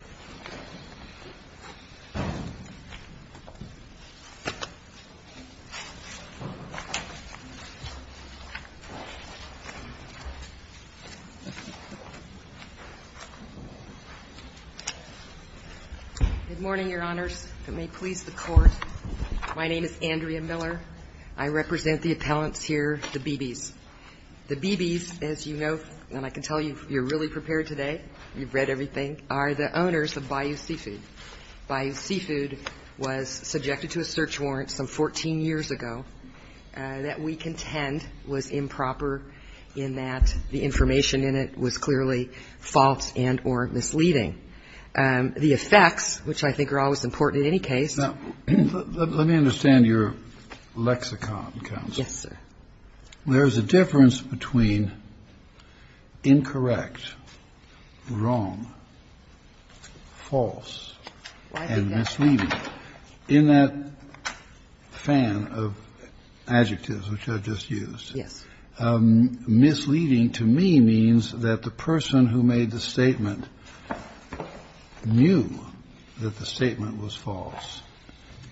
Good morning, Your Honors. If it may please the Court, my name is Andrea Miller. I represent the appellants here, the BBs. The BBs, as you know, and I can tell you, you're really prepared today, you've read everything, are the owners of Bayou Seafood. Bayou Seafood was subjected to a search warrant some 14 years ago that we contend was improper in that the information in it was clearly false and or misleading. The effects, which I think are always important in any case Now, let me understand your lexicon, Ms. Kelson. Yes, sir. There's a difference between incorrect, wrong, false, and misleading. In that fan of adjectives which I just used, misleading to me means that the person who made the statement knew that the statement was false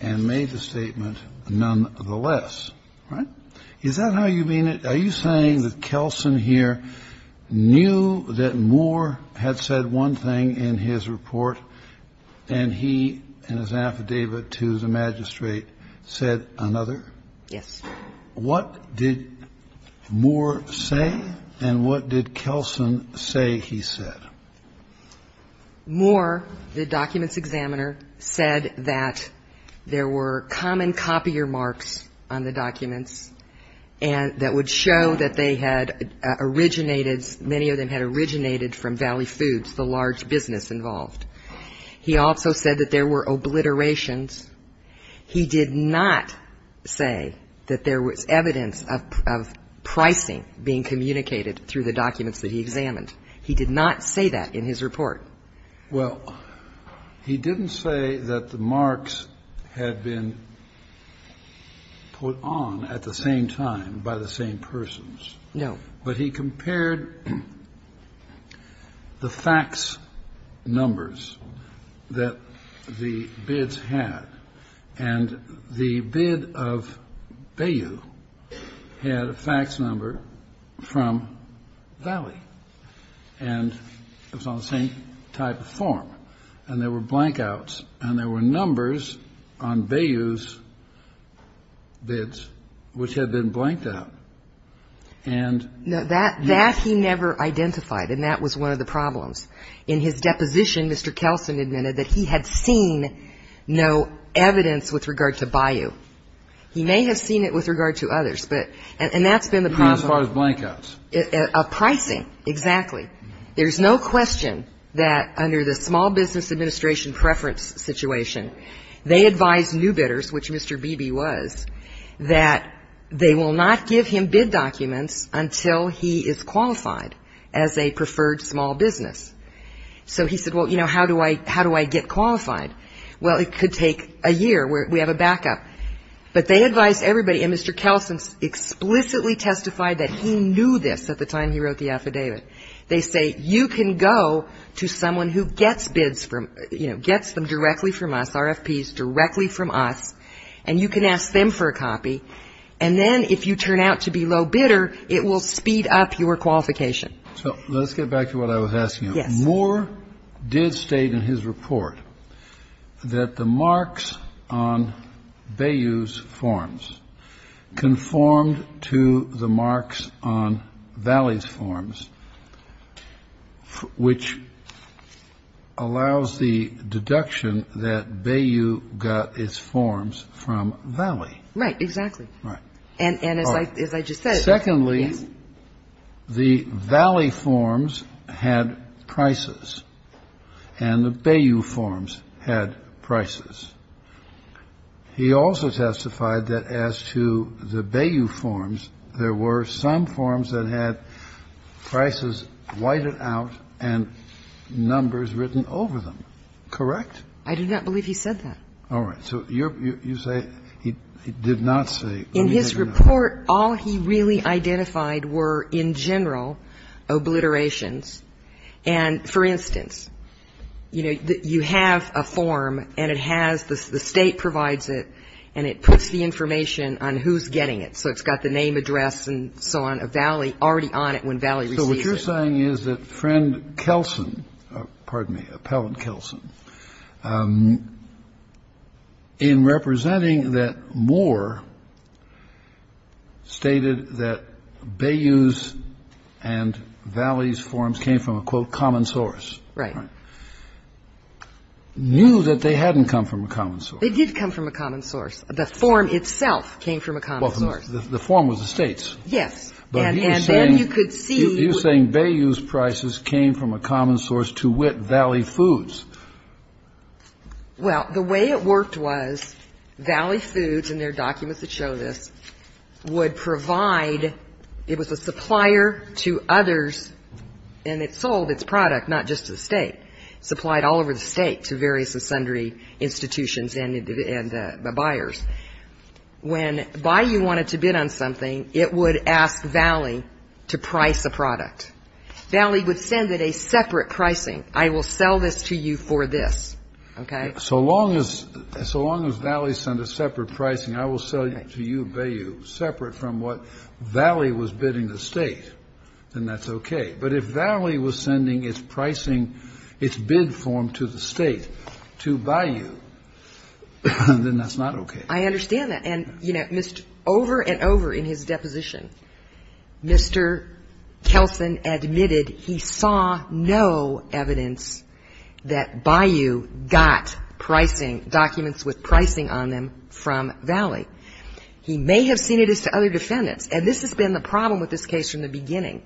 and made the statement nonetheless. Is that how you mean it? Are you saying that Kelson here knew that Moore had said one thing in his report, and he, in his affidavit to the magistrate, said another? Yes. What did Moore say, and what did Kelson say he said? Moore, the documents examiner, said that there were common copier marks on the documents and that would show that they had originated, many of them had originated from Valley Foods, the large business involved. He also said that there were obliterations. He did not say that there was evidence of pricing being communicated through the documents that he examined. He did not say that in his report. Well, he didn't say that the marks had been put on at the same time by the same persons. No. But he compared the fax numbers that the bids had, and the bid of Bayou had a fax number from Valley Foods, and Bayou had a fax number from Valley Foods, and Bayou had a fax number from Valley Foods. And they were all the same type of form. And there were blankouts, and there were numbers on Bayou's bids which had been blanked out. And yes. That he never identified, and that was one of the problems. In his deposition, Mr. Kelson admitted that he had seen no evidence with regard to Bayou. He may have seen it with regard to others, and that's been the problem. Even as far as blankouts. Pricing, exactly. There's no question that under the Small Business Administration preference situation, they advised new bidders, which Mr. Beebe was, that they will not give him bid documents until he is qualified as a preferred small business. So he said, well, you know, how do I get qualified? Well, it could take a year. We have a backup. But they advised everybody, and Mr. Kelson explicitly testified that he knew this at the time he wrote the affidavit. They say, you can go to someone who gets bids from, you know, gets them directly from us, RFPs directly from us, and you can ask them for a copy, and then if you turn out to be low bidder, it will speed up your qualification. So let's get back to what I was asking you. Yes. Moore did state in his report that the marks on Bayou's forms conformed to the marks on Valley's forms, which allows the deduction that Bayou got its forms from Valley. Right. Exactly. Right. And as I just said, yes. The Valley forms had prices, and the Bayou forms had prices. He also testified that as to the Bayou forms, there were some forms that had prices whited out and numbers written over them. Correct? I do not believe he said that. All right. So you say he did not say. In his report, all he really identified were, in general, obliterations. And, for instance, you know, you have a form, and it has the state provides it, and it puts the information on who's getting it. So it's got the name, address, and so on of Valley already on it when Valley receives it. The other thing is that friend Kelson, pardon me, appellant Kelson, in representing that Moore stated that Bayou's and Valley's forms came from a, quote, common source. Right. Knew that they hadn't come from a common source. They did come from a common source. The form itself came from a common source. Well, the form was the states. Yes. And then you could see. You're saying Bayou's prices came from a common source to wit Valley Foods. Well, the way it worked was Valley Foods, and there are documents that show this, would provide It was a supplier to others, and it sold its product, not just to the state. Supplied all over the state to various and sundry institutions and buyers. When Bayou wanted to bid on something, it would ask Valley to price a product. Valley would send it a separate pricing. I will sell this to you for this. Okay. So long as Valley sent a separate pricing, I will sell it to you, Bayou, separate from what Valley was bidding the state, then that's okay. But if Valley was sending its pricing, its bid form to the state to Bayou, then that's not okay. I understand that. And, you know, over and over in his deposition, Mr. Kelson admitted he saw no evidence that Bayou got pricing, documents with pricing on them from Valley. He may have seen it as to other defendants. And this has been the problem with this case from the beginning.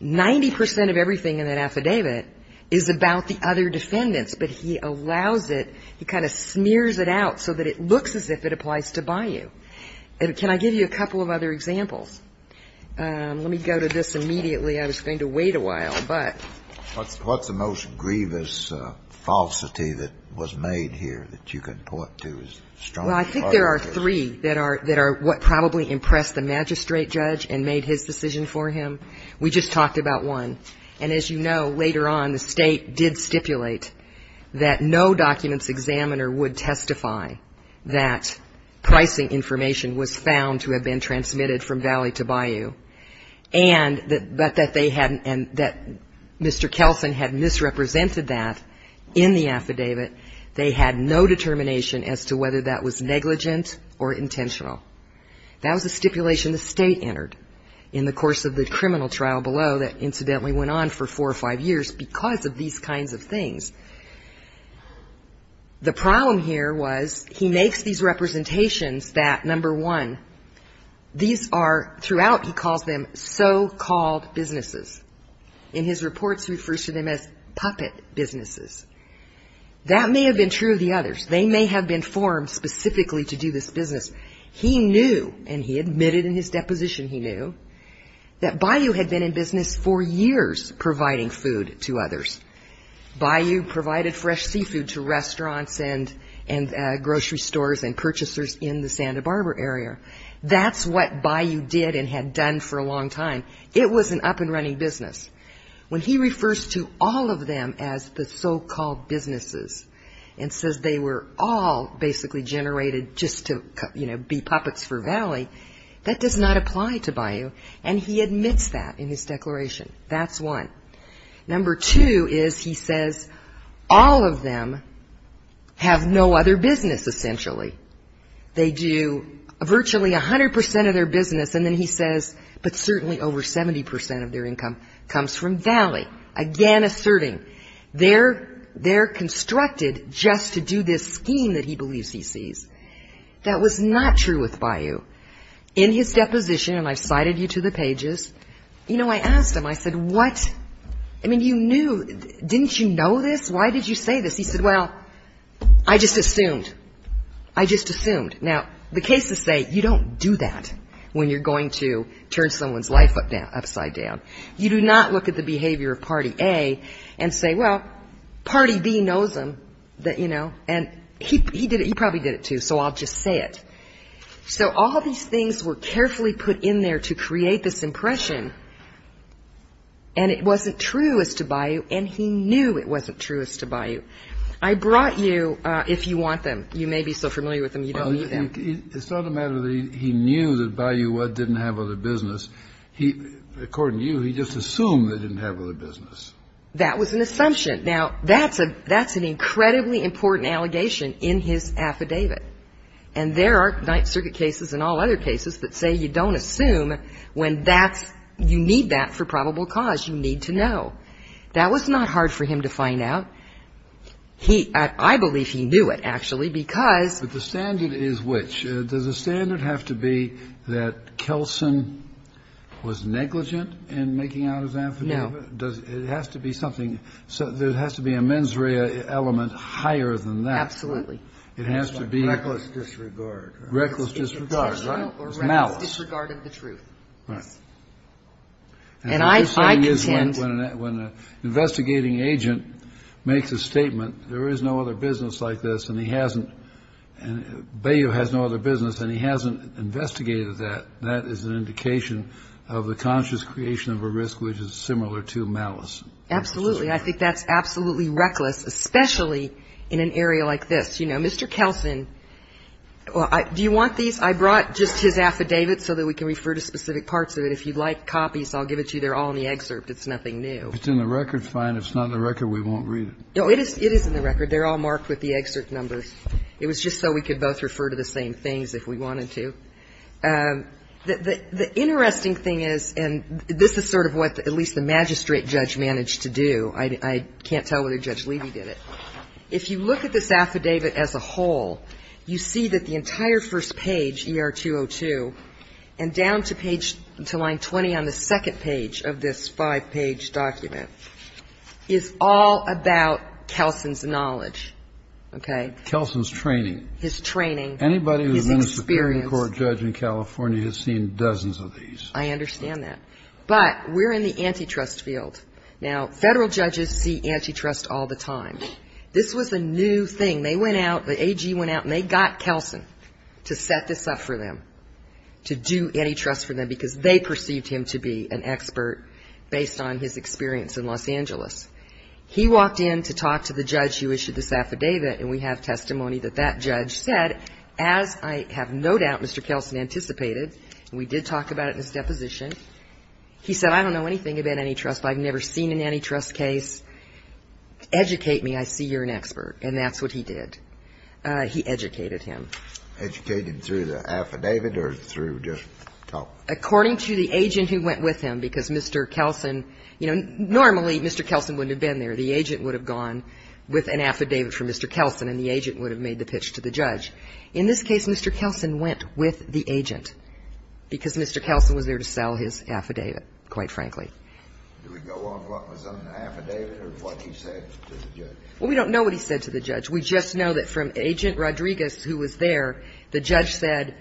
Ninety percent of everything in that affidavit is about the other defendants, but he allows it, he kind of smears it out so that it looks as if it applies to Bayou. And can I give you a couple of other examples? Let me go to this immediately. I was going to wait a while, but. What's the most grievous falsity that was made here that you can point to as strongly part of this? Well, I think there are three that are what probably impressed the magistrate judge and made his decision for him. We just talked about one. And as you know, later on, the State did stipulate that no documents examiner would testify that pricing information was found to have been transmitted from Valley to Bayou, and that Mr. Kelson had misrepresented that in the affidavit. They had no determination as to whether that was negligent or intentional. That was a stipulation the State entered in the course of the criminal trial below that incidentally went on for four or five years because of these kinds of things. The problem here was he makes these representations that, number one, these are throughout, he calls them, so-called businesses. In his reports, he refers to them as puppet businesses. That may have been true of the others. They may have been formed specifically to do this business. He knew, and he admitted in his deposition he knew, that Bayou had been in business for years providing food to others. Bayou provided fresh seafood to restaurants and grocery stores and purchasers in the Santa Barbara area. That's what Bayou did and had done for a long time. It was an up-and-running business. When he refers to all of them as the so-called businesses and says they were all basically generated just to, you know, be puppets for Valley, that does not apply to Bayou, and he admits that in his declaration. That's one. Number two is he says all of them have no other business essentially. They do virtually 100 percent of their business, and then he says, but certainly over 70 percent of their income comes from Valley, again asserting they're constructed just to do this scheme that he believes he sees. That was not true with Bayou. In his deposition, and I've cited you to the pages, you know, I asked him, I said, what? I mean, you knew. Didn't you know this? Why did you say this? He said, well, I just assumed. I just assumed. Now, the cases say you don't do that when you're going to turn someone's life upside down. You do not look at the behavior of Party A and say, well, Party B knows them, you know, and he did it. He probably did it too, so I'll just say it. So all these things were carefully put in there to create this impression, and it wasn't true as to Bayou, and he knew it wasn't true as to Bayou. I brought you, if you want them, you may be so familiar with them you don't need them. It's not a matter that he knew that Bayou didn't have other business. According to you, he just assumed they didn't have other business. That was an assumption. Now, that's an incredibly important allegation in his affidavit, and there are Ninth Circuit cases and all other cases that say you don't assume when that's you need that for probable cause. You need to know. That was not hard for him to find out. He, I believe he knew it, actually, because. But the standard is which? Does the standard have to be that Kelson was negligent in making out his affidavit? No. Does, it has to be something, there has to be a mens rea element higher than that. Absolutely. It has to be. Reckless disregard. Reckless disregard, right. Malice. Disregard of the truth. Right. And I contend. When an investigating agent makes a statement, there is no other business like this, and he hasn't. Bayou has no other business, and he hasn't investigated that. That is an indication of the conscious creation of a risk which is similar to malice. Absolutely. I think that's absolutely reckless, especially in an area like this. You know, Mr. Kelson, do you want these? I brought just his affidavit so that we can refer to specific parts of it. If you'd like copies, I'll give it to you. They're all in the excerpt. It's nothing new. If it's in the record, fine. If it's not in the record, we won't read it. No, it is in the record. They're all marked with the excerpt numbers. It was just so we could both refer to the same things if we wanted to. The interesting thing is, and this is sort of what at least the magistrate judge managed to do. I can't tell whether Judge Levy did it. If you look at this affidavit as a whole, you see that the entire first page, ER-202, and down to line 20 on the second page of this five-page document is all about Kelson's knowledge. Okay? Kelson's training. His training. Anybody who's been a Supreme Court judge in California has seen dozens of these. I understand that. But we're in the antitrust field. Now, Federal judges see antitrust all the time. This was a new thing. They went out, the AG went out, and they got Kelson to set this up for them. To do antitrust for them because they perceived him to be an expert based on his experience in Los Angeles. He walked in to talk to the judge who issued this affidavit, and we have testimony that that judge said, as I have no doubt Mr. Kelson anticipated, and we did talk about it in his deposition, he said, I don't know anything about antitrust. I've never seen an antitrust case. Educate me. I see you're an expert. And that's what he did. He educated him. Educated him through the affidavit or through just talk? According to the agent who went with him, because Mr. Kelson, you know, normally Mr. Kelson wouldn't have been there. The agent would have gone with an affidavit from Mr. Kelson, and the agent would have made the pitch to the judge. In this case, Mr. Kelson went with the agent because Mr. Kelson was there to sell his affidavit, quite frankly. Do we go off what was on the affidavit or what he said to the judge? Well, we don't know what he said to the judge. We just know that from Agent Rodriguez, who was there, the judge said,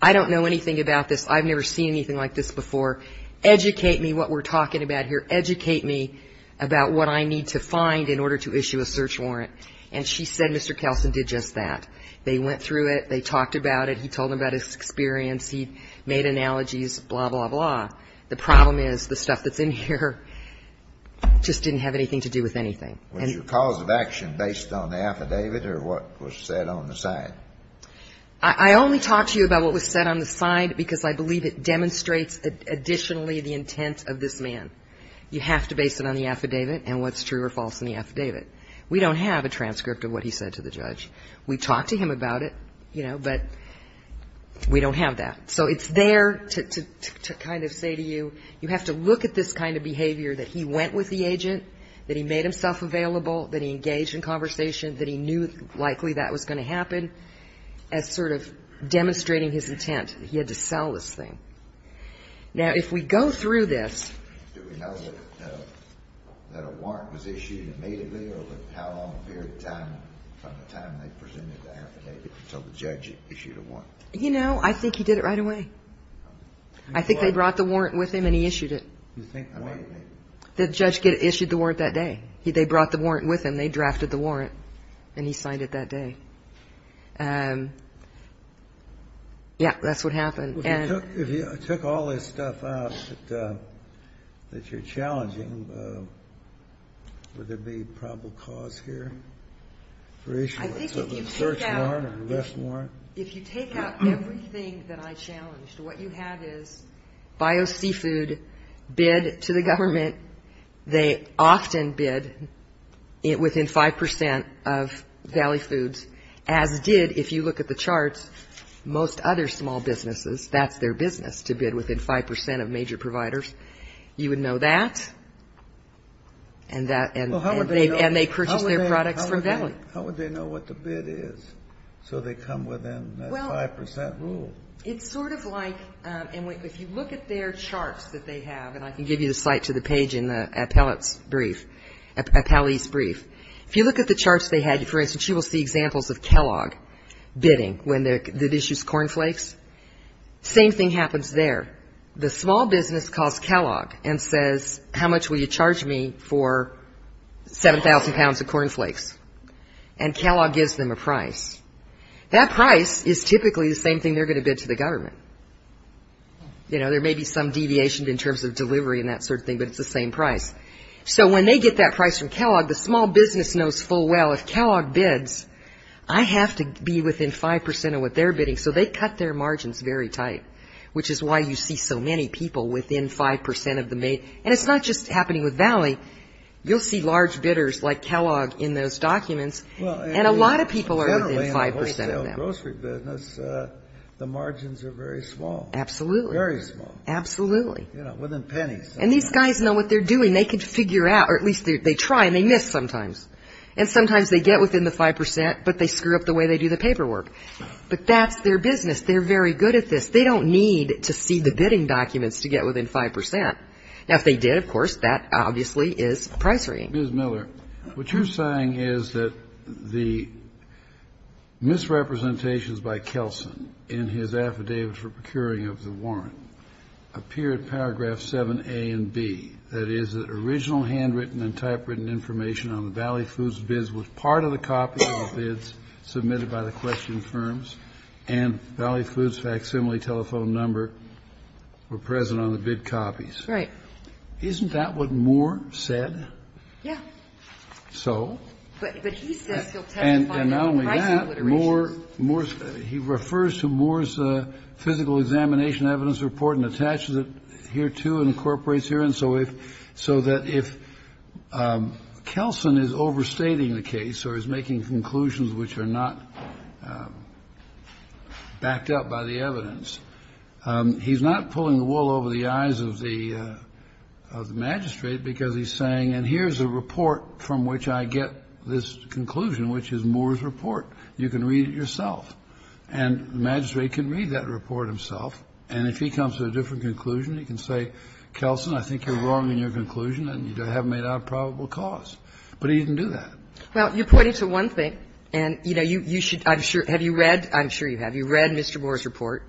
I don't know anything about this. I've never seen anything like this before. Educate me what we're talking about here. Educate me about what I need to find in order to issue a search warrant. And she said Mr. Kelson did just that. They went through it. They talked about it. He told them about his experience. He made analogies, blah, blah, blah. The problem is the stuff that's in here just didn't have anything to do with anything. Was your cause of action based on the affidavit or what was said on the side? I only talk to you about what was said on the side because I believe it demonstrates additionally the intent of this man. You have to base it on the affidavit and what's true or false in the affidavit. We don't have a transcript of what he said to the judge. We talked to him about it, you know, but we don't have that. So it's there to kind of say to you you have to look at this kind of behavior that he went with the agent, that he made himself available, that he engaged in conversation, that he knew likely that was going to happen as sort of demonstrating his intent. He had to sell this thing. Now, if we go through this. Did we know that a warrant was issued immediately or how long from the time they presented the affidavit until the judge issued a warrant? You know, I think he did it right away. I think they brought the warrant with him and he issued it. The judge issued the warrant that day. They brought the warrant with him. They drafted the warrant, and he signed it that day. Yeah, that's what happened. If you took all this stuff out that you're challenging, would there be probable cause here for issuing a search warrant or arrest warrant? If you take out everything that I challenged, what you have is BioSeafood bid to the government. They often bid within 5 percent of Valley Foods, as did, if you look at the charts, most other small businesses. That's their business to bid within 5 percent of major providers. You would know that. And they purchased their products from Valley. How would they know what the bid is? So they come within that 5 percent rule. It's sort of like, and if you look at their charts that they have, and I can give you the site to the page in the appellate's brief, appellee's brief, if you look at the charts they had, for instance, you will see examples of Kellogg bidding when it issues cornflakes. Same thing happens there. The small business calls Kellogg and says, how much will you charge me for 7,000 pounds of cornflakes? And Kellogg gives them a price. That price is typically the same thing they're going to bid to the government. You know, there may be some deviation in terms of delivery and that sort of thing, but it's the same price. So when they get that price from Kellogg, the small business knows full well if Kellogg bids, I have to be within 5 percent of what they're bidding, so they cut their margins very tight, which is why you see so many people within 5 percent of the made. And it's not just happening with Valley. You'll see large bidders like Kellogg in those documents, and a lot of people are within 5 percent of them. Well, generally in the wholesale grocery business, the margins are very small. Absolutely. Very small. Absolutely. You know, within pennies. And these guys know what they're doing. They can figure out, or at least they try, and they miss sometimes. And sometimes they get within the 5 percent, but they screw up the way they do the paperwork. But that's their business. They're very good at this. They don't need to see the bidding documents to get within 5 percent. Now, if they did, of course, that obviously is price rating. Ms. Miller, what you're saying is that the misrepresentations by Kelson in his affidavit for procuring of the warrant appear at paragraph 7A and B, that is, that original handwritten and typewritten information on the Valley Foods bids was part of the copy of the bids submitted by the question firms, and Valley Foods' facsimile telephone number were present on the bid copies. Right. Isn't that what Moore said? Yeah. So? But he says he'll testify to the pricing literations. And not only that, Moore's – he refers to Moore's physical examination evidence report and attaches it here, too, incorporates here, and so if – so that if Kelson is overstating the case or is making conclusions which are not backed up by the evidence, he's not pulling the wool over the eyes of the magistrate because he's saying, and here's a report from which I get this conclusion, which is Moore's report. You can read it yourself. And the magistrate can read that report himself. And if he comes to a different conclusion, he can say, Kelson, I think you're wrong in your conclusion and you have made out a probable cause. But he didn't do that. Well, you're pointing to one thing. And, you know, you should – I'm sure – have you read – I'm sure you have. You read Mr. Moore's report,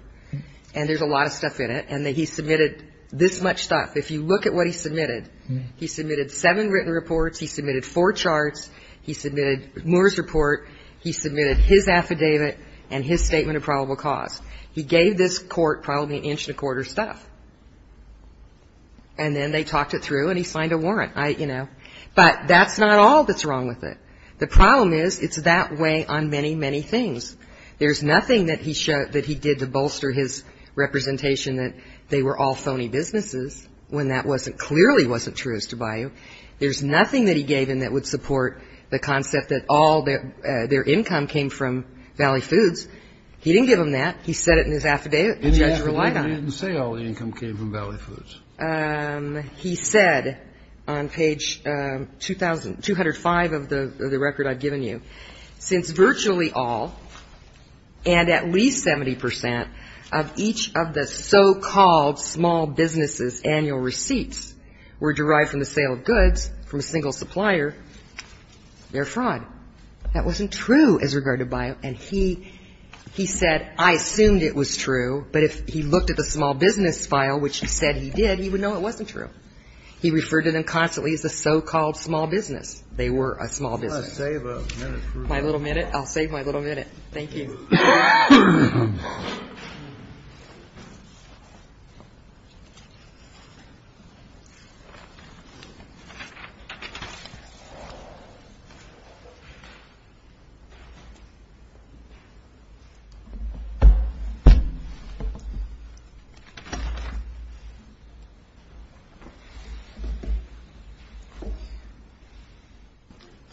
and there's a lot of stuff in it, and that he submitted this much stuff. If you look at what he submitted, he submitted seven written reports, he submitted four charts, he submitted Moore's report, he submitted his affidavit, and his statement of probable cause. He gave this court probably an inch and a quarter stuff. And then they talked it through and he signed a warrant. You know. But that's not all that's wrong with it. The problem is it's that way on many, many things. There's nothing that he did to bolster his representation that they were all phony businesses when that clearly wasn't true as to Bayou. There's nothing that he gave him that would support the concept that all their income came from Valley Foods. He didn't give him that. He said it in his affidavit. The judge relied on it. In the affidavit it didn't say all the income came from Valley Foods. He said on page 205 of the record I've given you, since virtually all and at least 70 percent of each of the so-called small businesses' annual receipts were derived from the sale of goods from a single supplier, they're fraud. That wasn't true as regard to Bayou. And he said I assumed it was true, but if he looked at the small business file, which he said he did, he would know it wasn't true. He referred to them constantly as the so-called small business. They were a small business. My little minute? I'll save my little minute. Thank you.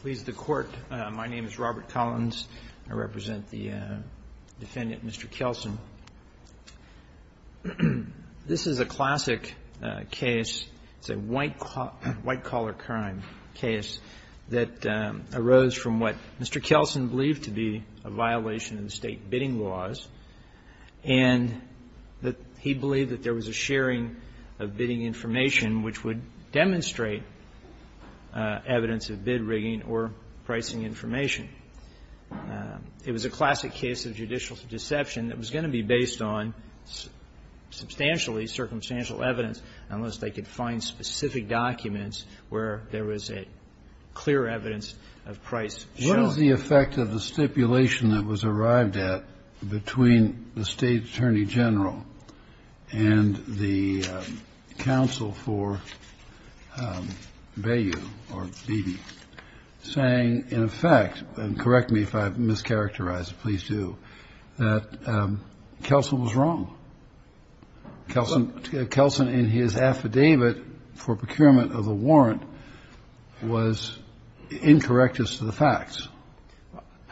Please, the Court. My name is Robert Collins. I represent the defendant, Mr. Kelsen. This is a classic case. It's a white-collar crime case that arose from what Mr. Kelsen believed to be a violation of state bidding laws and that he believed that there was a sharing of bidding information which would demonstrate evidence of bid rigging or pricing information. It was a classic case of judicial deception that was going to be based on substantially circumstantial evidence unless they could find specific documents where there was clear evidence of price sharing. What is the effect of the stipulation that was arrived at between the State Attorney General and the counsel for Bayou or Beebe saying, in effect, and correct me if I've mischaracterized it, please do, that Kelsen was wrong? Kelsen in his affidavit for procurement of the warrant was incorrect as to the facts.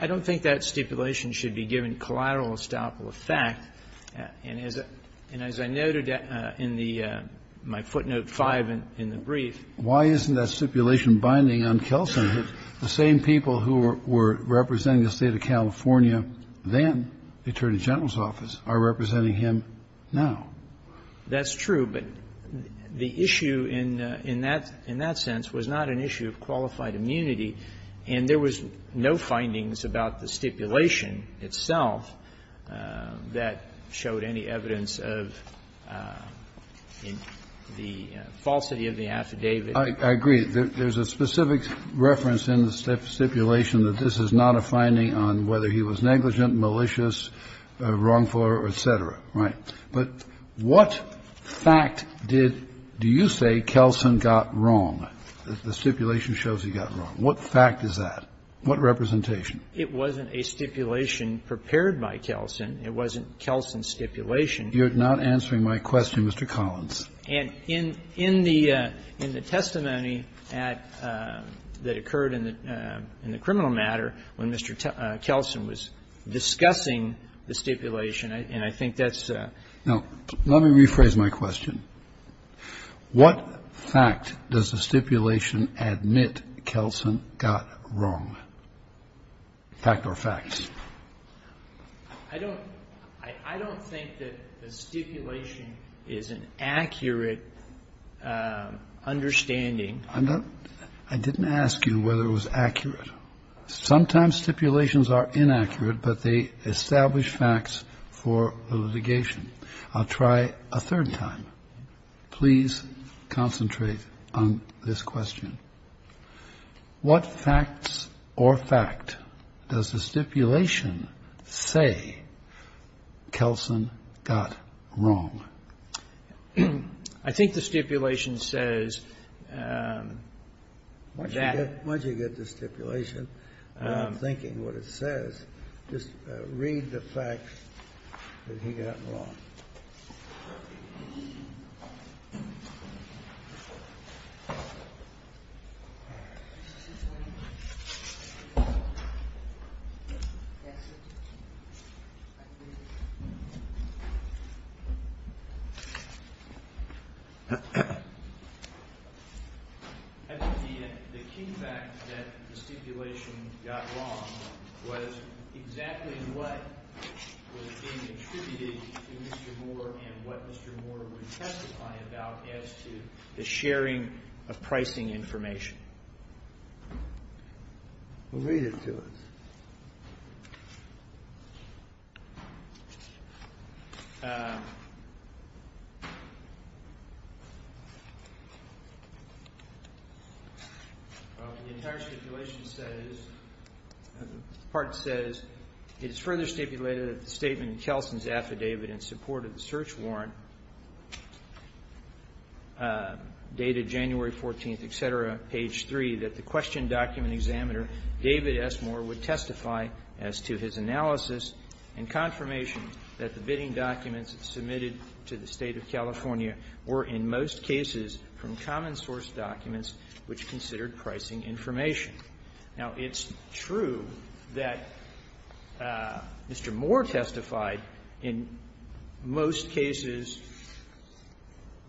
I don't think that stipulation should be given collateral estoppel effect. And as I noted in the my footnote 5 in the brief. Why isn't that stipulation binding on Kelsen? The same people who were representing the State of California then, the Attorney General's office, are representing him now. That's true. But the issue in that sense was not an issue of qualified immunity. And there was no findings about the stipulation itself that showed any evidence of the falsity of the affidavit. I agree. There's a specific reference in the stipulation that this is not a finding on whether he was negligent, malicious, wrongful, et cetera, right? But what fact did you say Kelsen got wrong? The stipulation shows he got wrong. What fact is that? What representation? It wasn't a stipulation prepared by Kelsen. It wasn't Kelsen's stipulation. You're not answering my question, Mr. Collins. And in the testimony that occurred in the criminal matter, when Mr. Kelsen was discussing the stipulation, and I think that's a. Now, let me rephrase my question. What fact does the stipulation admit Kelsen got wrong? Fact or facts? I don't think that the stipulation is an accurate understanding. I didn't ask you whether it was accurate. Sometimes stipulations are inaccurate, but they establish facts for litigation. I'll try a third time. Please concentrate on this question. What facts or fact does the stipulation say Kelsen got wrong? I think the stipulation says that. Once you get the stipulation and I'm thinking what it says, just read the facts that he got wrong. I think the key fact that the stipulation got wrong was exactly what was being attributed to Mr. Moore and what Mr. Moore would testify about as to the sharing of pricing information. Read it to us. The entire stipulation says, the part says, it is further stipulated that the statement in Kelsen's affidavit in support of the search warrant dated January 14th, et cetera, page 3, that the question David S. Moore would testify as to his analysis and confirmation that the bidding documents submitted to the State of California were, in most cases, from common source documents which considered pricing information. Now, it's true that Mr. Moore testified. In most cases,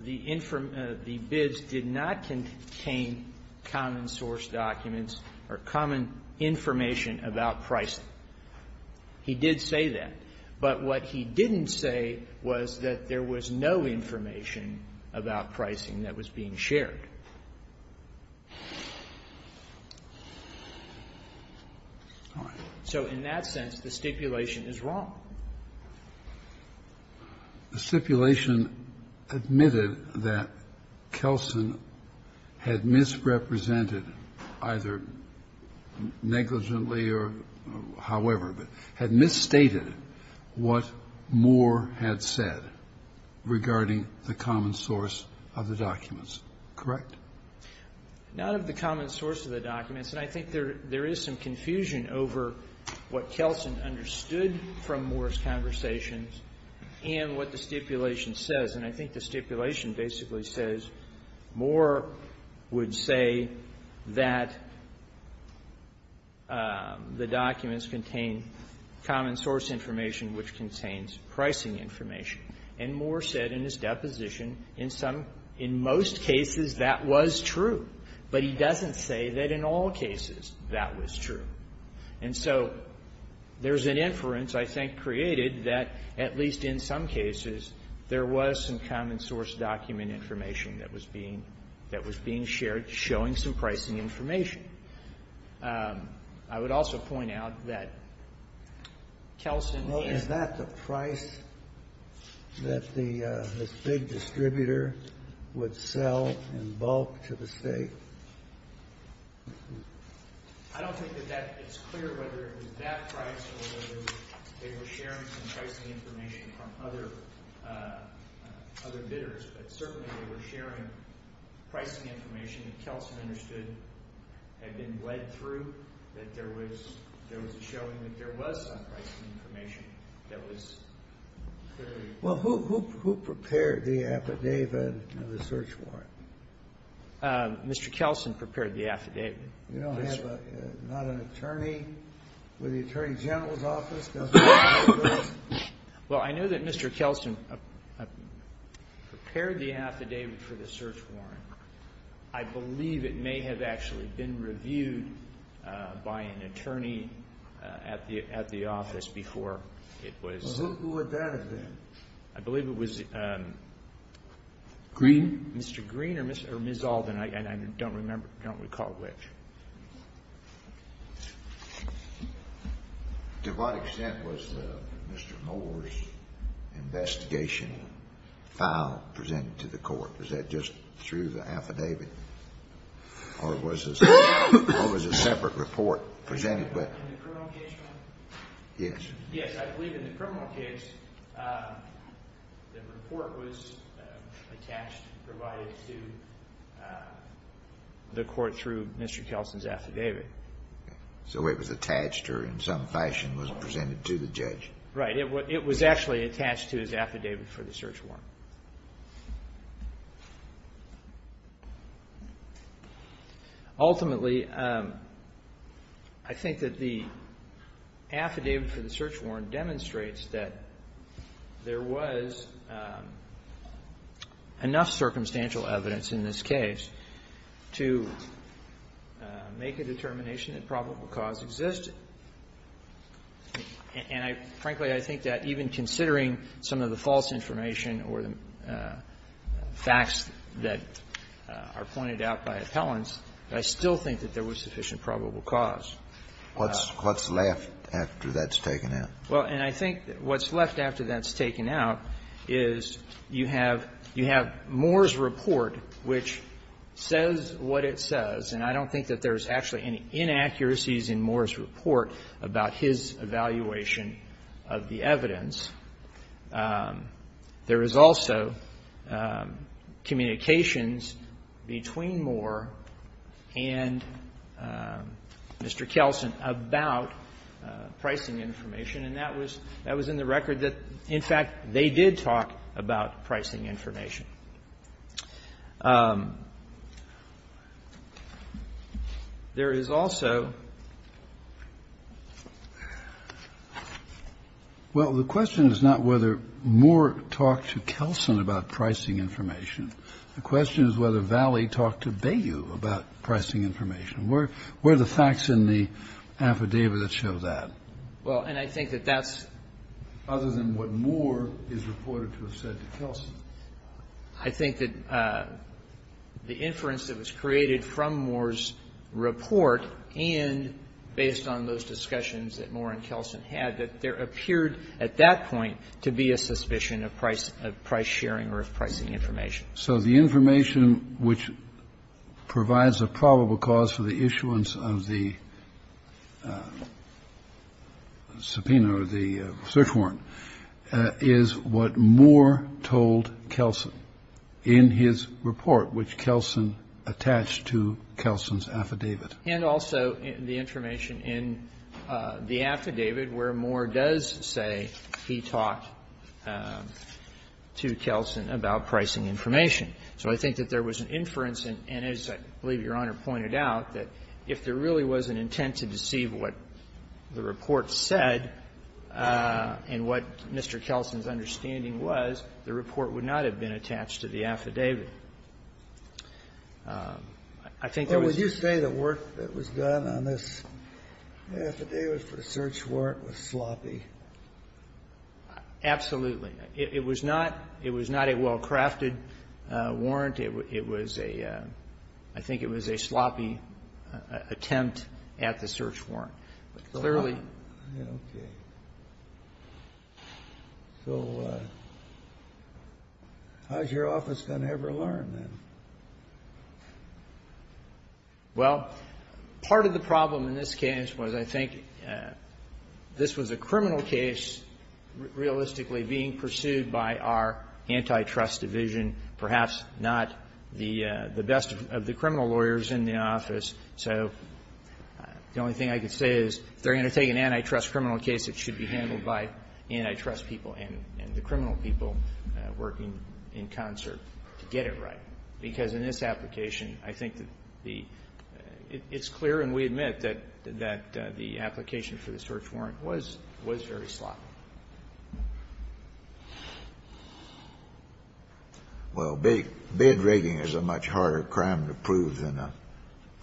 the bids did not contain common source documents or common information about pricing. He did say that. But what he didn't say was that there was no information about pricing that was being shared. All right. So in that sense, the stipulation is wrong. The stipulation admitted that Kelsen had misrepresented, either negligently or however, but had misstated what Moore had said regarding the common source of the documents. Correct? None of the common source of the documents. And I think there is some confusion over what Kelsen understood from Moore's conversations and what the stipulation says. And I think the stipulation basically says Moore would say that the documents contain common source information which contains pricing information. And Moore said in his deposition, in some, in most cases, that was true. But he doesn't say that in all cases that was true. And so there's an inference, I think, created that at least in some cases, there was some common source document information that was being shared showing some pricing information. I would also point out that Kelsen and the others. That this big distributor would sell in bulk to the state. I don't think that it's clear whether it was that price or whether they were sharing some pricing information from other bidders. But certainly they were sharing pricing information that Kelsen understood had been Well, who prepared the affidavit and the search warrant? Mr. Kelsen prepared the affidavit. You don't have a, not an attorney with the Attorney General's office? Well, I know that Mr. Kelsen prepared the affidavit for the search warrant. I believe it may have actually been reviewed by an attorney at the office before it was Who would that have been? I believe it was Green? Mr. Green or Ms. Alden. I don't remember. I don't recall which. To what extent was Mr. Moore's investigation filed, presented to the court? Was that just through the affidavit? Or was a separate report presented? In the criminal case, Your Honor? Yes. Yes, I believe in the criminal case, the report was attached, provided to the court through Mr. Kelsen's affidavit. So it was attached or in some fashion was presented to the judge? Right. It was actually attached to his affidavit for the search warrant. Ultimately, I think that the affidavit for the search warrant demonstrates that there was enough circumstantial evidence in this case to make a determination that probable cause existed. And I, frankly, I think that even considering some of the false information or the facts that are pointed out by appellants, I still think that there was sufficient probable cause. What's left after that's taken out? Well, and I think what's left after that's taken out is you have Moore's report, which says what it says, and I don't think that there's actually any inaccuracies in Moore's report about his evaluation of the evidence. There is also communications between Moore and Mr. Kelsen about pricing information, and that was in the record that, in fact, they did talk about pricing information. There is also ---- Well, the question is not whether Moore talked to Kelsen about pricing information. The question is whether Valley talked to Bayou about pricing information. Where are the facts in the affidavit that show that? Well, and I think that that's ---- I think that the inference that was created from Moore's report and based on those discussions that Moore and Kelsen had, that there appeared at that point to be a suspicion of price sharing or of pricing information. So the information which provides a probable cause for the issuance of the subpoena or the search warrant is what Moore told Kelsen in his report, which Kelsen attached to Kelsen's affidavit. And also the information in the affidavit where Moore does say he talked to Kelsen about pricing information. So I think that there was an inference, and as I believe Your Honor pointed out, that if there really was an intent to deceive what the report said and what Mr. Kelsen's understanding was, the report would not have been attached to the affidavit. I think there was ---- Well, would you say the work that was done on this affidavit for the search warrant was sloppy? Absolutely. It was not ---- it was not a well-crafted warrant. It was a ---- I think it was a sloppy attempt at the search warrant. But clearly ---- Okay. So how is your office going to ever learn then? Well, part of the problem in this case was I think this was a criminal case realistically being pursued by our antitrust division, perhaps not the best of the criminal lawyers in the office. So the only thing I could say is if they're going to take an antitrust criminal case, it should be handled by antitrust people and the criminal people working in concert to get it right, because in this application, I think the ---- it's clear and we admit that the application for the search warrant was very sloppy. Well, bid rigging is a much harder crime to prove than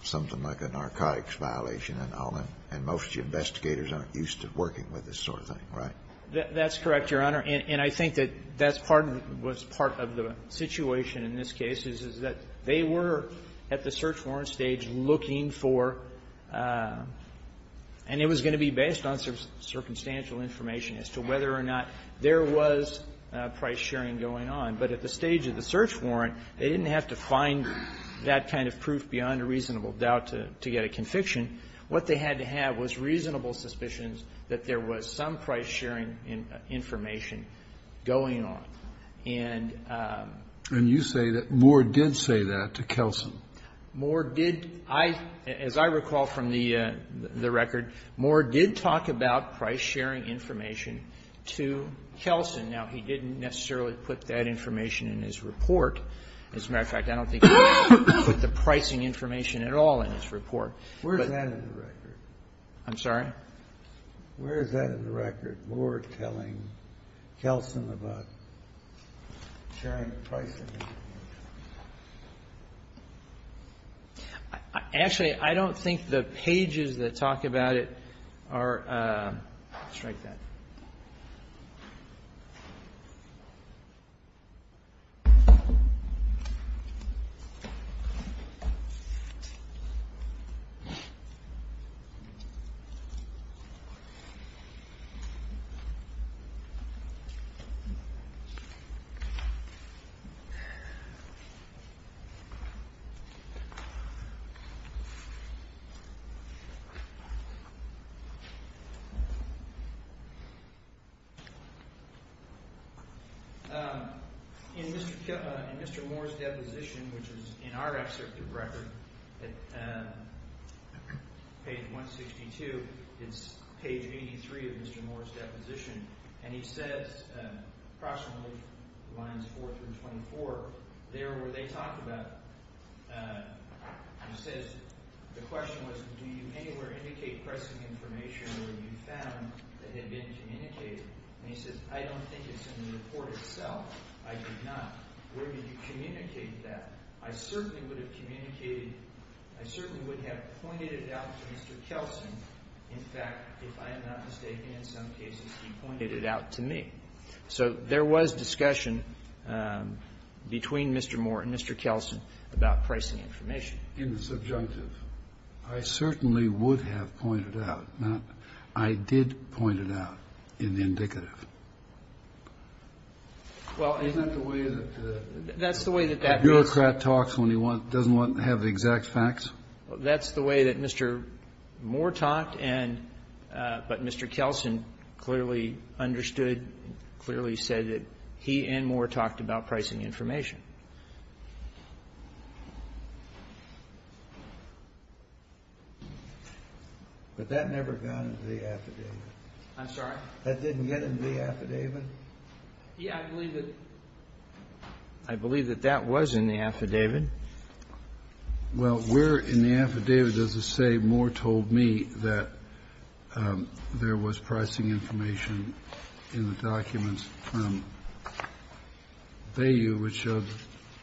something like a narcotics violation and all that. And most investigators aren't used to working with this sort of thing, right? That's correct, Your Honor. And I think that that's part of the situation in this case is that they were at the And it was going to be based on circumstantial information as to whether or not there was price-sharing going on. But at the stage of the search warrant, they didn't have to find that kind of proof beyond a reasonable doubt to get a conviction. What they had to have was reasonable suspicions that there was some price-sharing information going on. And ---- And you say that Moore did say that to Kelson. Moore did. As I recall from the record, Moore did talk about price-sharing information to Kelson. Now, he didn't necessarily put that information in his report. As a matter of fact, I don't think he put the pricing information at all in his report. I'm sorry? Actually, I don't think the pages that talk about it are ---- Strike that. In Mr. Moore's deposition, which is in our record, page 162, it's page 83 of Mr. Moore's He says, the question was, do you anywhere indicate pricing information where you found that had been communicated? And he says, I don't think it's in the report itself. I did not. Where did you communicate that? I certainly would have communicated, I certainly would have pointed it out to Mr. Kelson. In fact, if I am not mistaken, in some cases he pointed it out to me. So there was discussion between Mr. Moore and Mr. Kelson about pricing information. In the subjunctive, I certainly would have pointed it out. I did point it out in the indicative. Well, isn't that the way that the bureaucrat talks when he doesn't want to have the exact facts? That's the way that Mr. Moore talked and ---- but Mr. Kelson clearly understood, clearly said that he and Moore talked about pricing information. But that never got into the affidavit. I'm sorry? That didn't get into the affidavit? Yeah, I believe that. I believe that that was in the affidavit. Well, where in the affidavit does it say Moore told me that there was pricing information in the documents from Bayview, which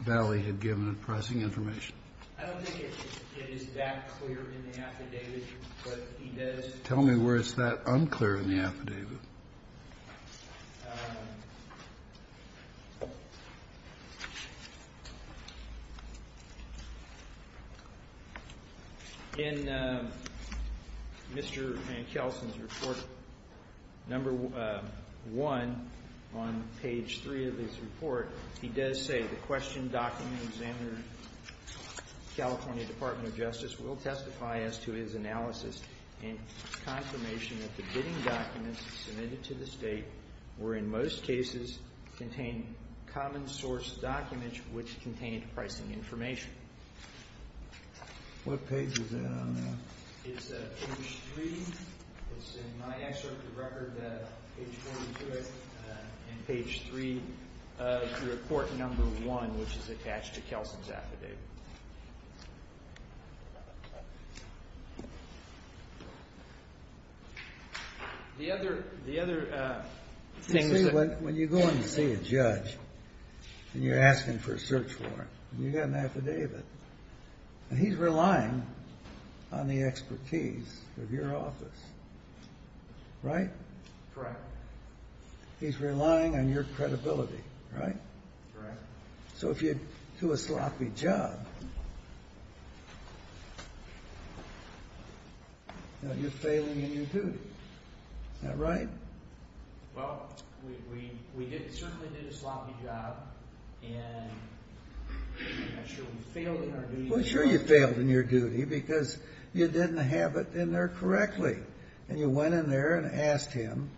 Valley had given pricing information? I don't think it is that clear in the affidavit, but he does ---- Tell me where it's that unclear in the affidavit. In Mr. Kelson's report, number one, on page three of his report, he does say, Examiner, California Department of Justice, will testify as to his analysis and confirmation that the bidding documents submitted to the State were, in most cases, contained common source documents which contained pricing information. What page is that on there? It's page three. It's in my excerpt of the record, page 42 of it, and page three of report number one, which is attached to Kelson's affidavit. The other thing is that ---- You see, when you go in to see a judge and you're asking for a search warrant, and you get an affidavit, and he's relying on the expertise of your office, right? Correct. He's relying on your credibility, right? Correct. So if you do a sloppy job, you're failing in your duty. Isn't that right? Well, we certainly did a sloppy job, and I'm sure we failed in our duty. Well, sure you failed in your duty because you didn't have it in there correctly, and you went in there and asked him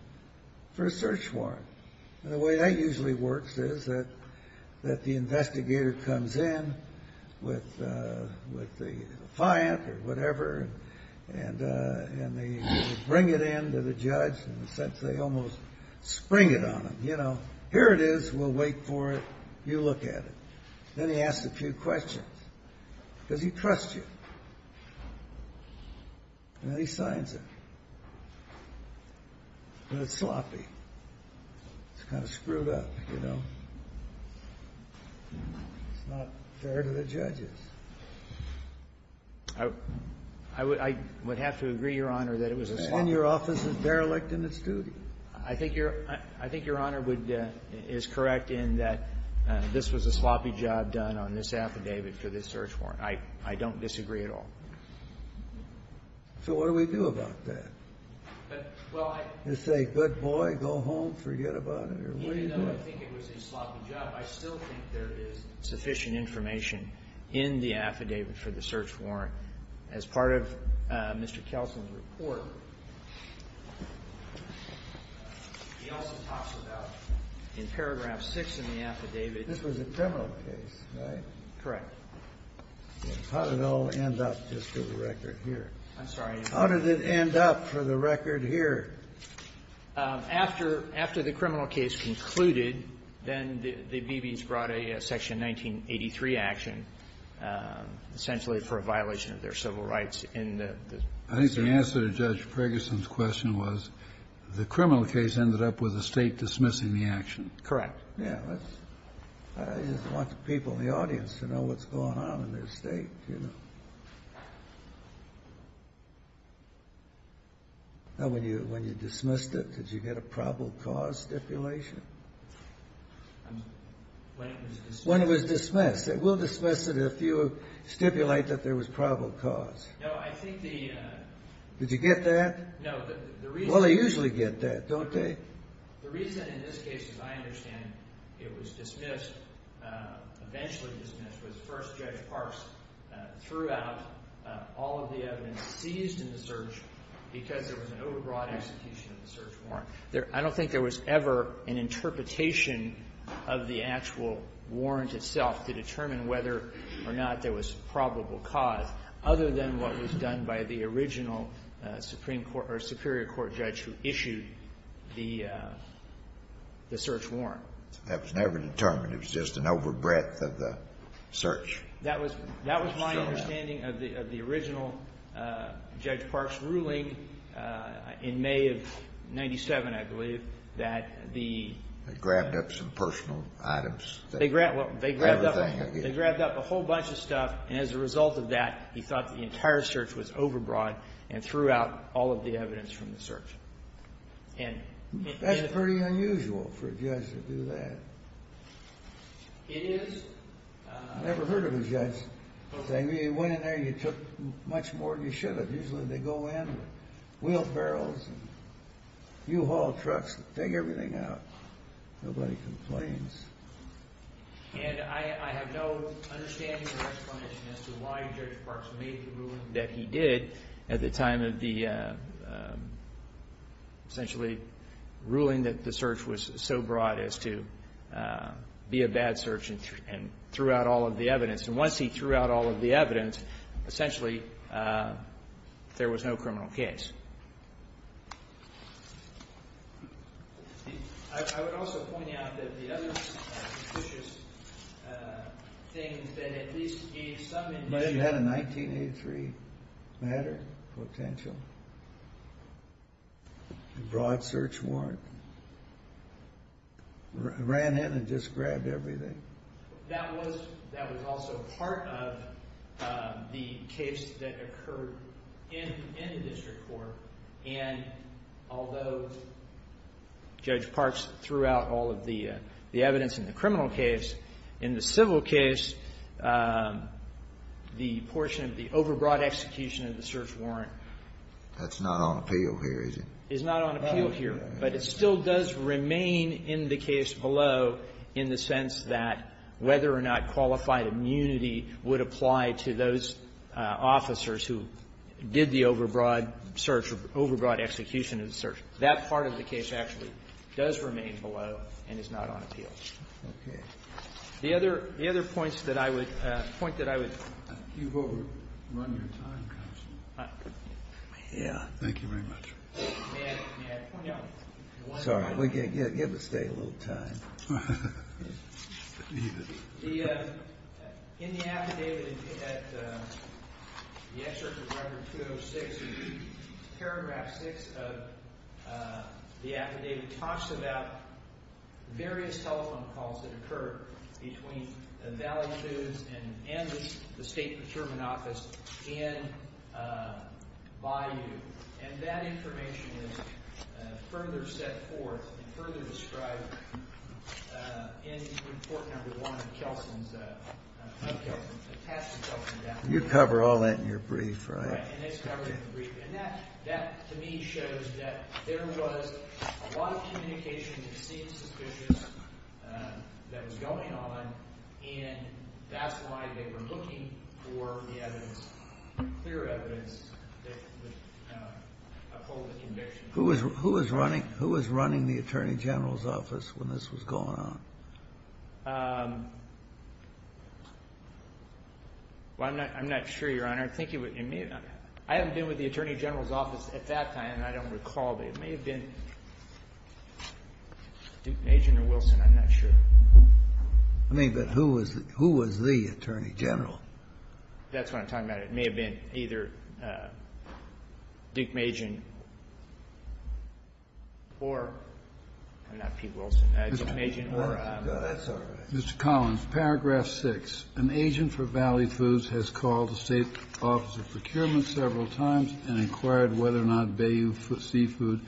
for a search warrant. And the way that usually works is that the investigator comes in with the client or whatever, and they bring it in to the judge in the sense they almost spring it on them. You know, here it is. We'll wait for it. You look at it. Then he asks a few questions because he trusts you. And then he signs it. But it's sloppy. It's kind of screwed up, you know. It's not fair to the judges. I would have to agree, Your Honor, that it was a sloppy job. And your office is derelict in its duty. I think Your Honor is correct in that this was a sloppy job done on this affidavit for this search warrant. I don't disagree at all. So what do we do about that? You say, good boy, go home, forget about it? Even though I think it was a sloppy job, I still think there is sufficient information in the affidavit for the search warrant. As part of Mr. Kelson's report, he also talks about in paragraph 6 in the affidavit. This was a criminal case, right? Correct. How did it all end up just for the record here? I'm sorry. How did it end up for the record here? After the criminal case concluded, then the BBs brought a Section 1983 action essentially for a violation of their civil rights in the search warrant. I think the answer to Judge Ferguson's question was the criminal case ended up with the State dismissing the action. Correct. Yes. I just want the people in the audience to know what's going on in this State, you know. When you dismissed it, did you get a probable cause stipulation? When it was dismissed. When it was dismissed. We'll dismiss it if you stipulate that there was probable cause. No, I think the… Did you get that? No, the reason… Well, they usually get that, don't they? The reason in this case, as I understand it, it was dismissed, eventually dismissed, was First Judge Parks threw out all of the evidence seized in the search because there was an overbroad execution of the search warrant. I don't think there was ever an interpretation of the actual warrant itself to determine whether or not there was probable cause, other than what was done by the original Supreme Court or Superior Court judge who issued the search warrant. That was never determined. It was just an overbreadth of the search. That was my understanding of the original Judge Parks' ruling in May of 97, I believe, that the… They grabbed up some personal items. They grabbed up a whole bunch of stuff, and as a result of that, he thought the entire search was overbroad and threw out all of the evidence from the search. That's pretty unusual for a judge to do that. It is. I've never heard of a judge saying, well, you went in there and you took much more than you should have. Usually they go in with wheelbarrows and U-Haul trucks and take everything out. Nobody complains. And I have no understanding or explanation as to why Judge Parks made the ruling that he did at the time of the essentially ruling that the search was so broad as to be a bad search and threw out all of the evidence. And once he threw out all of the evidence, essentially there was no criminal case. I would also point out that the other suspicious thing that at least gave some indication… But it had a 1983 matter potential. A broad search warrant. Ran in and just grabbed everything. That was also part of the case that occurred in the district court. And although Judge Parks threw out all of the evidence in the criminal case, in the civil case, the portion of the overbroad execution of the search warrant… That's not on appeal here, is it? …is not on appeal here, but it still does remain in the case below in the sense that whether or not qualified immunity would apply to those officers who did the overbroad search or overbroad execution of the search. That part of the case actually does remain below and is not on appeal. Okay. The other points that I would point that I would… You've overrun your time, counsel. Thank you very much. May I point out… Sorry. Give the State a little time. In the affidavit at the excerpt of Record 206, paragraph 6 of the affidavit talks about various telephone calls that occurred between the Valley Shoes and the State Procurement Office in Bayou. And that information is further set forth and further described in Report No. 1 of Kelson's… You cover all that in your brief, right? Right. And it's covered in the brief. And that, to me, shows that there was a lot of communication that seemed suspicious that was going on, and that's why they were looking for the evidence, clear evidence that would uphold the conviction. Who was running the Attorney General's office when this was going on? Well, I'm not sure, Your Honor. I haven't been with the Attorney General's office at that time, and I don't recall. It may have been Agent Wilson. I'm not sure. I mean, but who was the Attorney General? That's what I'm talking about. It may have been either Dick Majan or, I'm not Pete Wilson, Dick Majan or… No, that's all right. Mr. Collins, Paragraph 6, An agent for Valley Foods has called the State Office of Procurement several times and inquired whether or not Bayou Seafood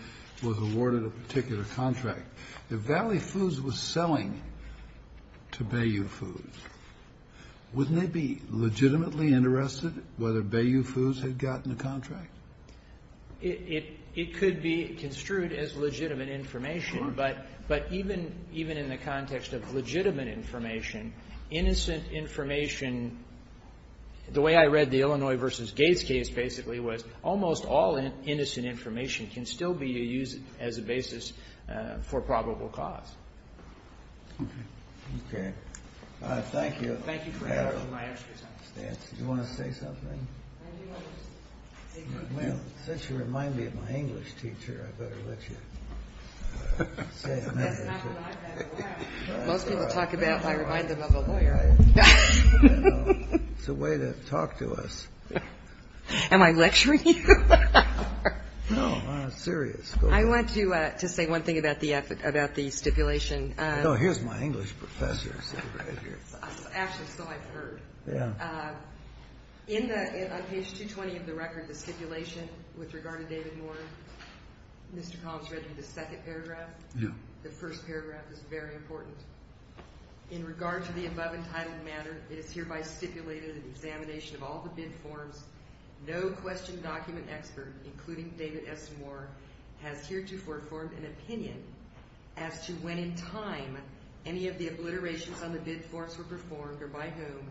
was awarded a particular contract. If Valley Foods was selling to Bayou Foods, wouldn't they be legitimately interested whether Bayou Foods had gotten a contract? It could be construed as legitimate information, but even in the context of legitimate information, innocent information, the way I read the Illinois v. Gates case basically was almost all innocent information can still be used as a basis for probable cause. Okay. Thank you. Thank you for answering my questions. Do you want to say something? Well, since you remind me of my English teacher, I better let you say it. That's not what I meant. Most people talk about how I remind them of a lawyer. It's a way to talk to us. Am I lecturing you? No, I'm serious. I want to say one thing about the stipulation. Here's my English professor sitting right here. Actually, so I've heard. On page 220 of the record, the stipulation with regard to David Moore, Mr. Collins read me the second paragraph. The first paragraph is very important. In regard to the above entitled matter, it is hereby stipulated in examination of all the bid forms, no question document expert, including David S. Moore, has heretofore formed an opinion as to when in time any of the obliterations on the bid forms were performed or by whom,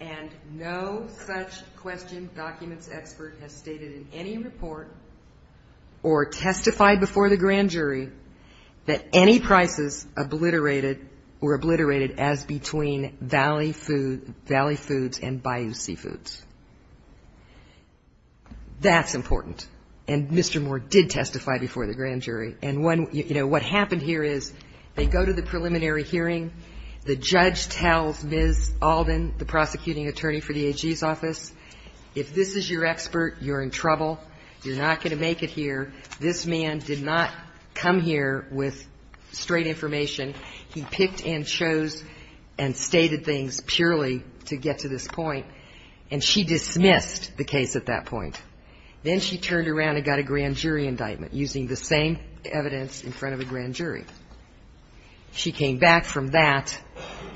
and no such question documents expert has stated in any report or testified before the grand jury that any prices obliterated were obliterated as between Valley Foods and Bayou Seafoods. That's important. And Mr. Moore did testify before the grand jury. And, you know, what happened here is they go to the preliminary hearing. The judge tells Ms. Alden, the prosecuting attorney for the AG's office, if this is your expert, you're in trouble. You're not going to make it here. This man did not come here with straight information. He picked and chose and stated things purely to get to this point, and she dismissed the case at that point. Then she turned around and got a grand jury indictment using the same evidence in front of a grand jury. She came back from that,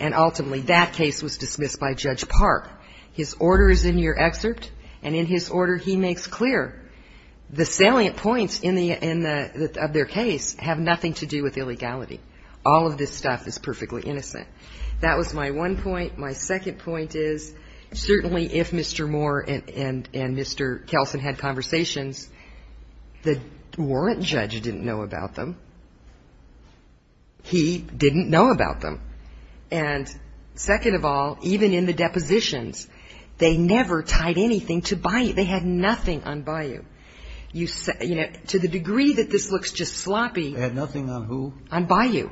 and ultimately that case was dismissed by Judge Park. His order is in your excerpt, and in his order he makes clear the salient points in the end of their case have nothing to do with illegality. All of this stuff is perfectly innocent. That was my one point. My second point is certainly if Mr. Moore and Mr. Kelson had conversations, the warrant judge didn't know about them. He didn't know about them. And second of all, even in the depositions, they never tied anything to Bayou. They had nothing on Bayou. To the degree that this looks just sloppy. They had nothing on who? On Bayou.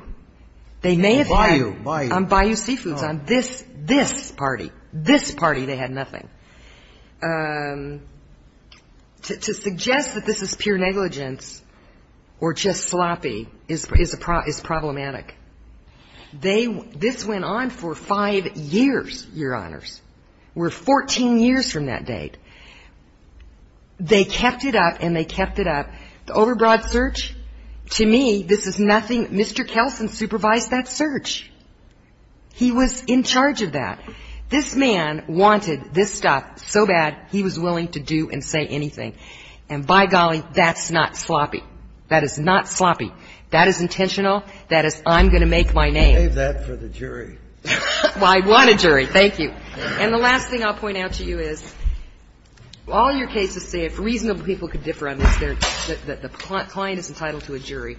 They may have had on Bayou Seafoods, on this party. This party they had nothing. To suggest that this is pure negligence or just sloppy is problematic. This went on for five years, Your Honors. We're 14 years from that date. They kept it up and they kept it up. The overbroad search, to me, this is nothing. Mr. Kelson supervised that search. He was in charge of that. This man wanted this stuff so bad he was willing to do and say anything. And by golly, that's not sloppy. That is not sloppy. That is intentional. That is I'm going to make my name. I'll leave that for the jury. I want a jury. Thank you. And the last thing I'll point out to you is all your cases say if reasonable people could differ on this, that the client is entitled to a jury.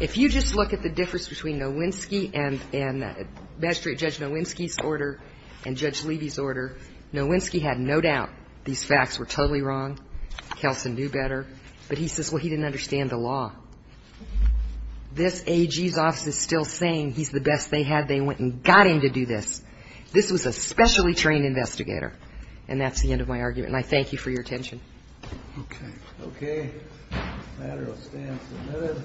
If you just look at the difference between Nowinski and magistrate Judge Nowinski's order, Nowinski had no doubt these facts were totally wrong. Kelson knew better. But he says, well, he didn't understand the law. This AG's office is still saying he's the best they had. They went and got him to do this. This was a specially trained investigator. And that's the end of my argument. And I thank you for your attention. Okay. Okay. The matter will stand submitted.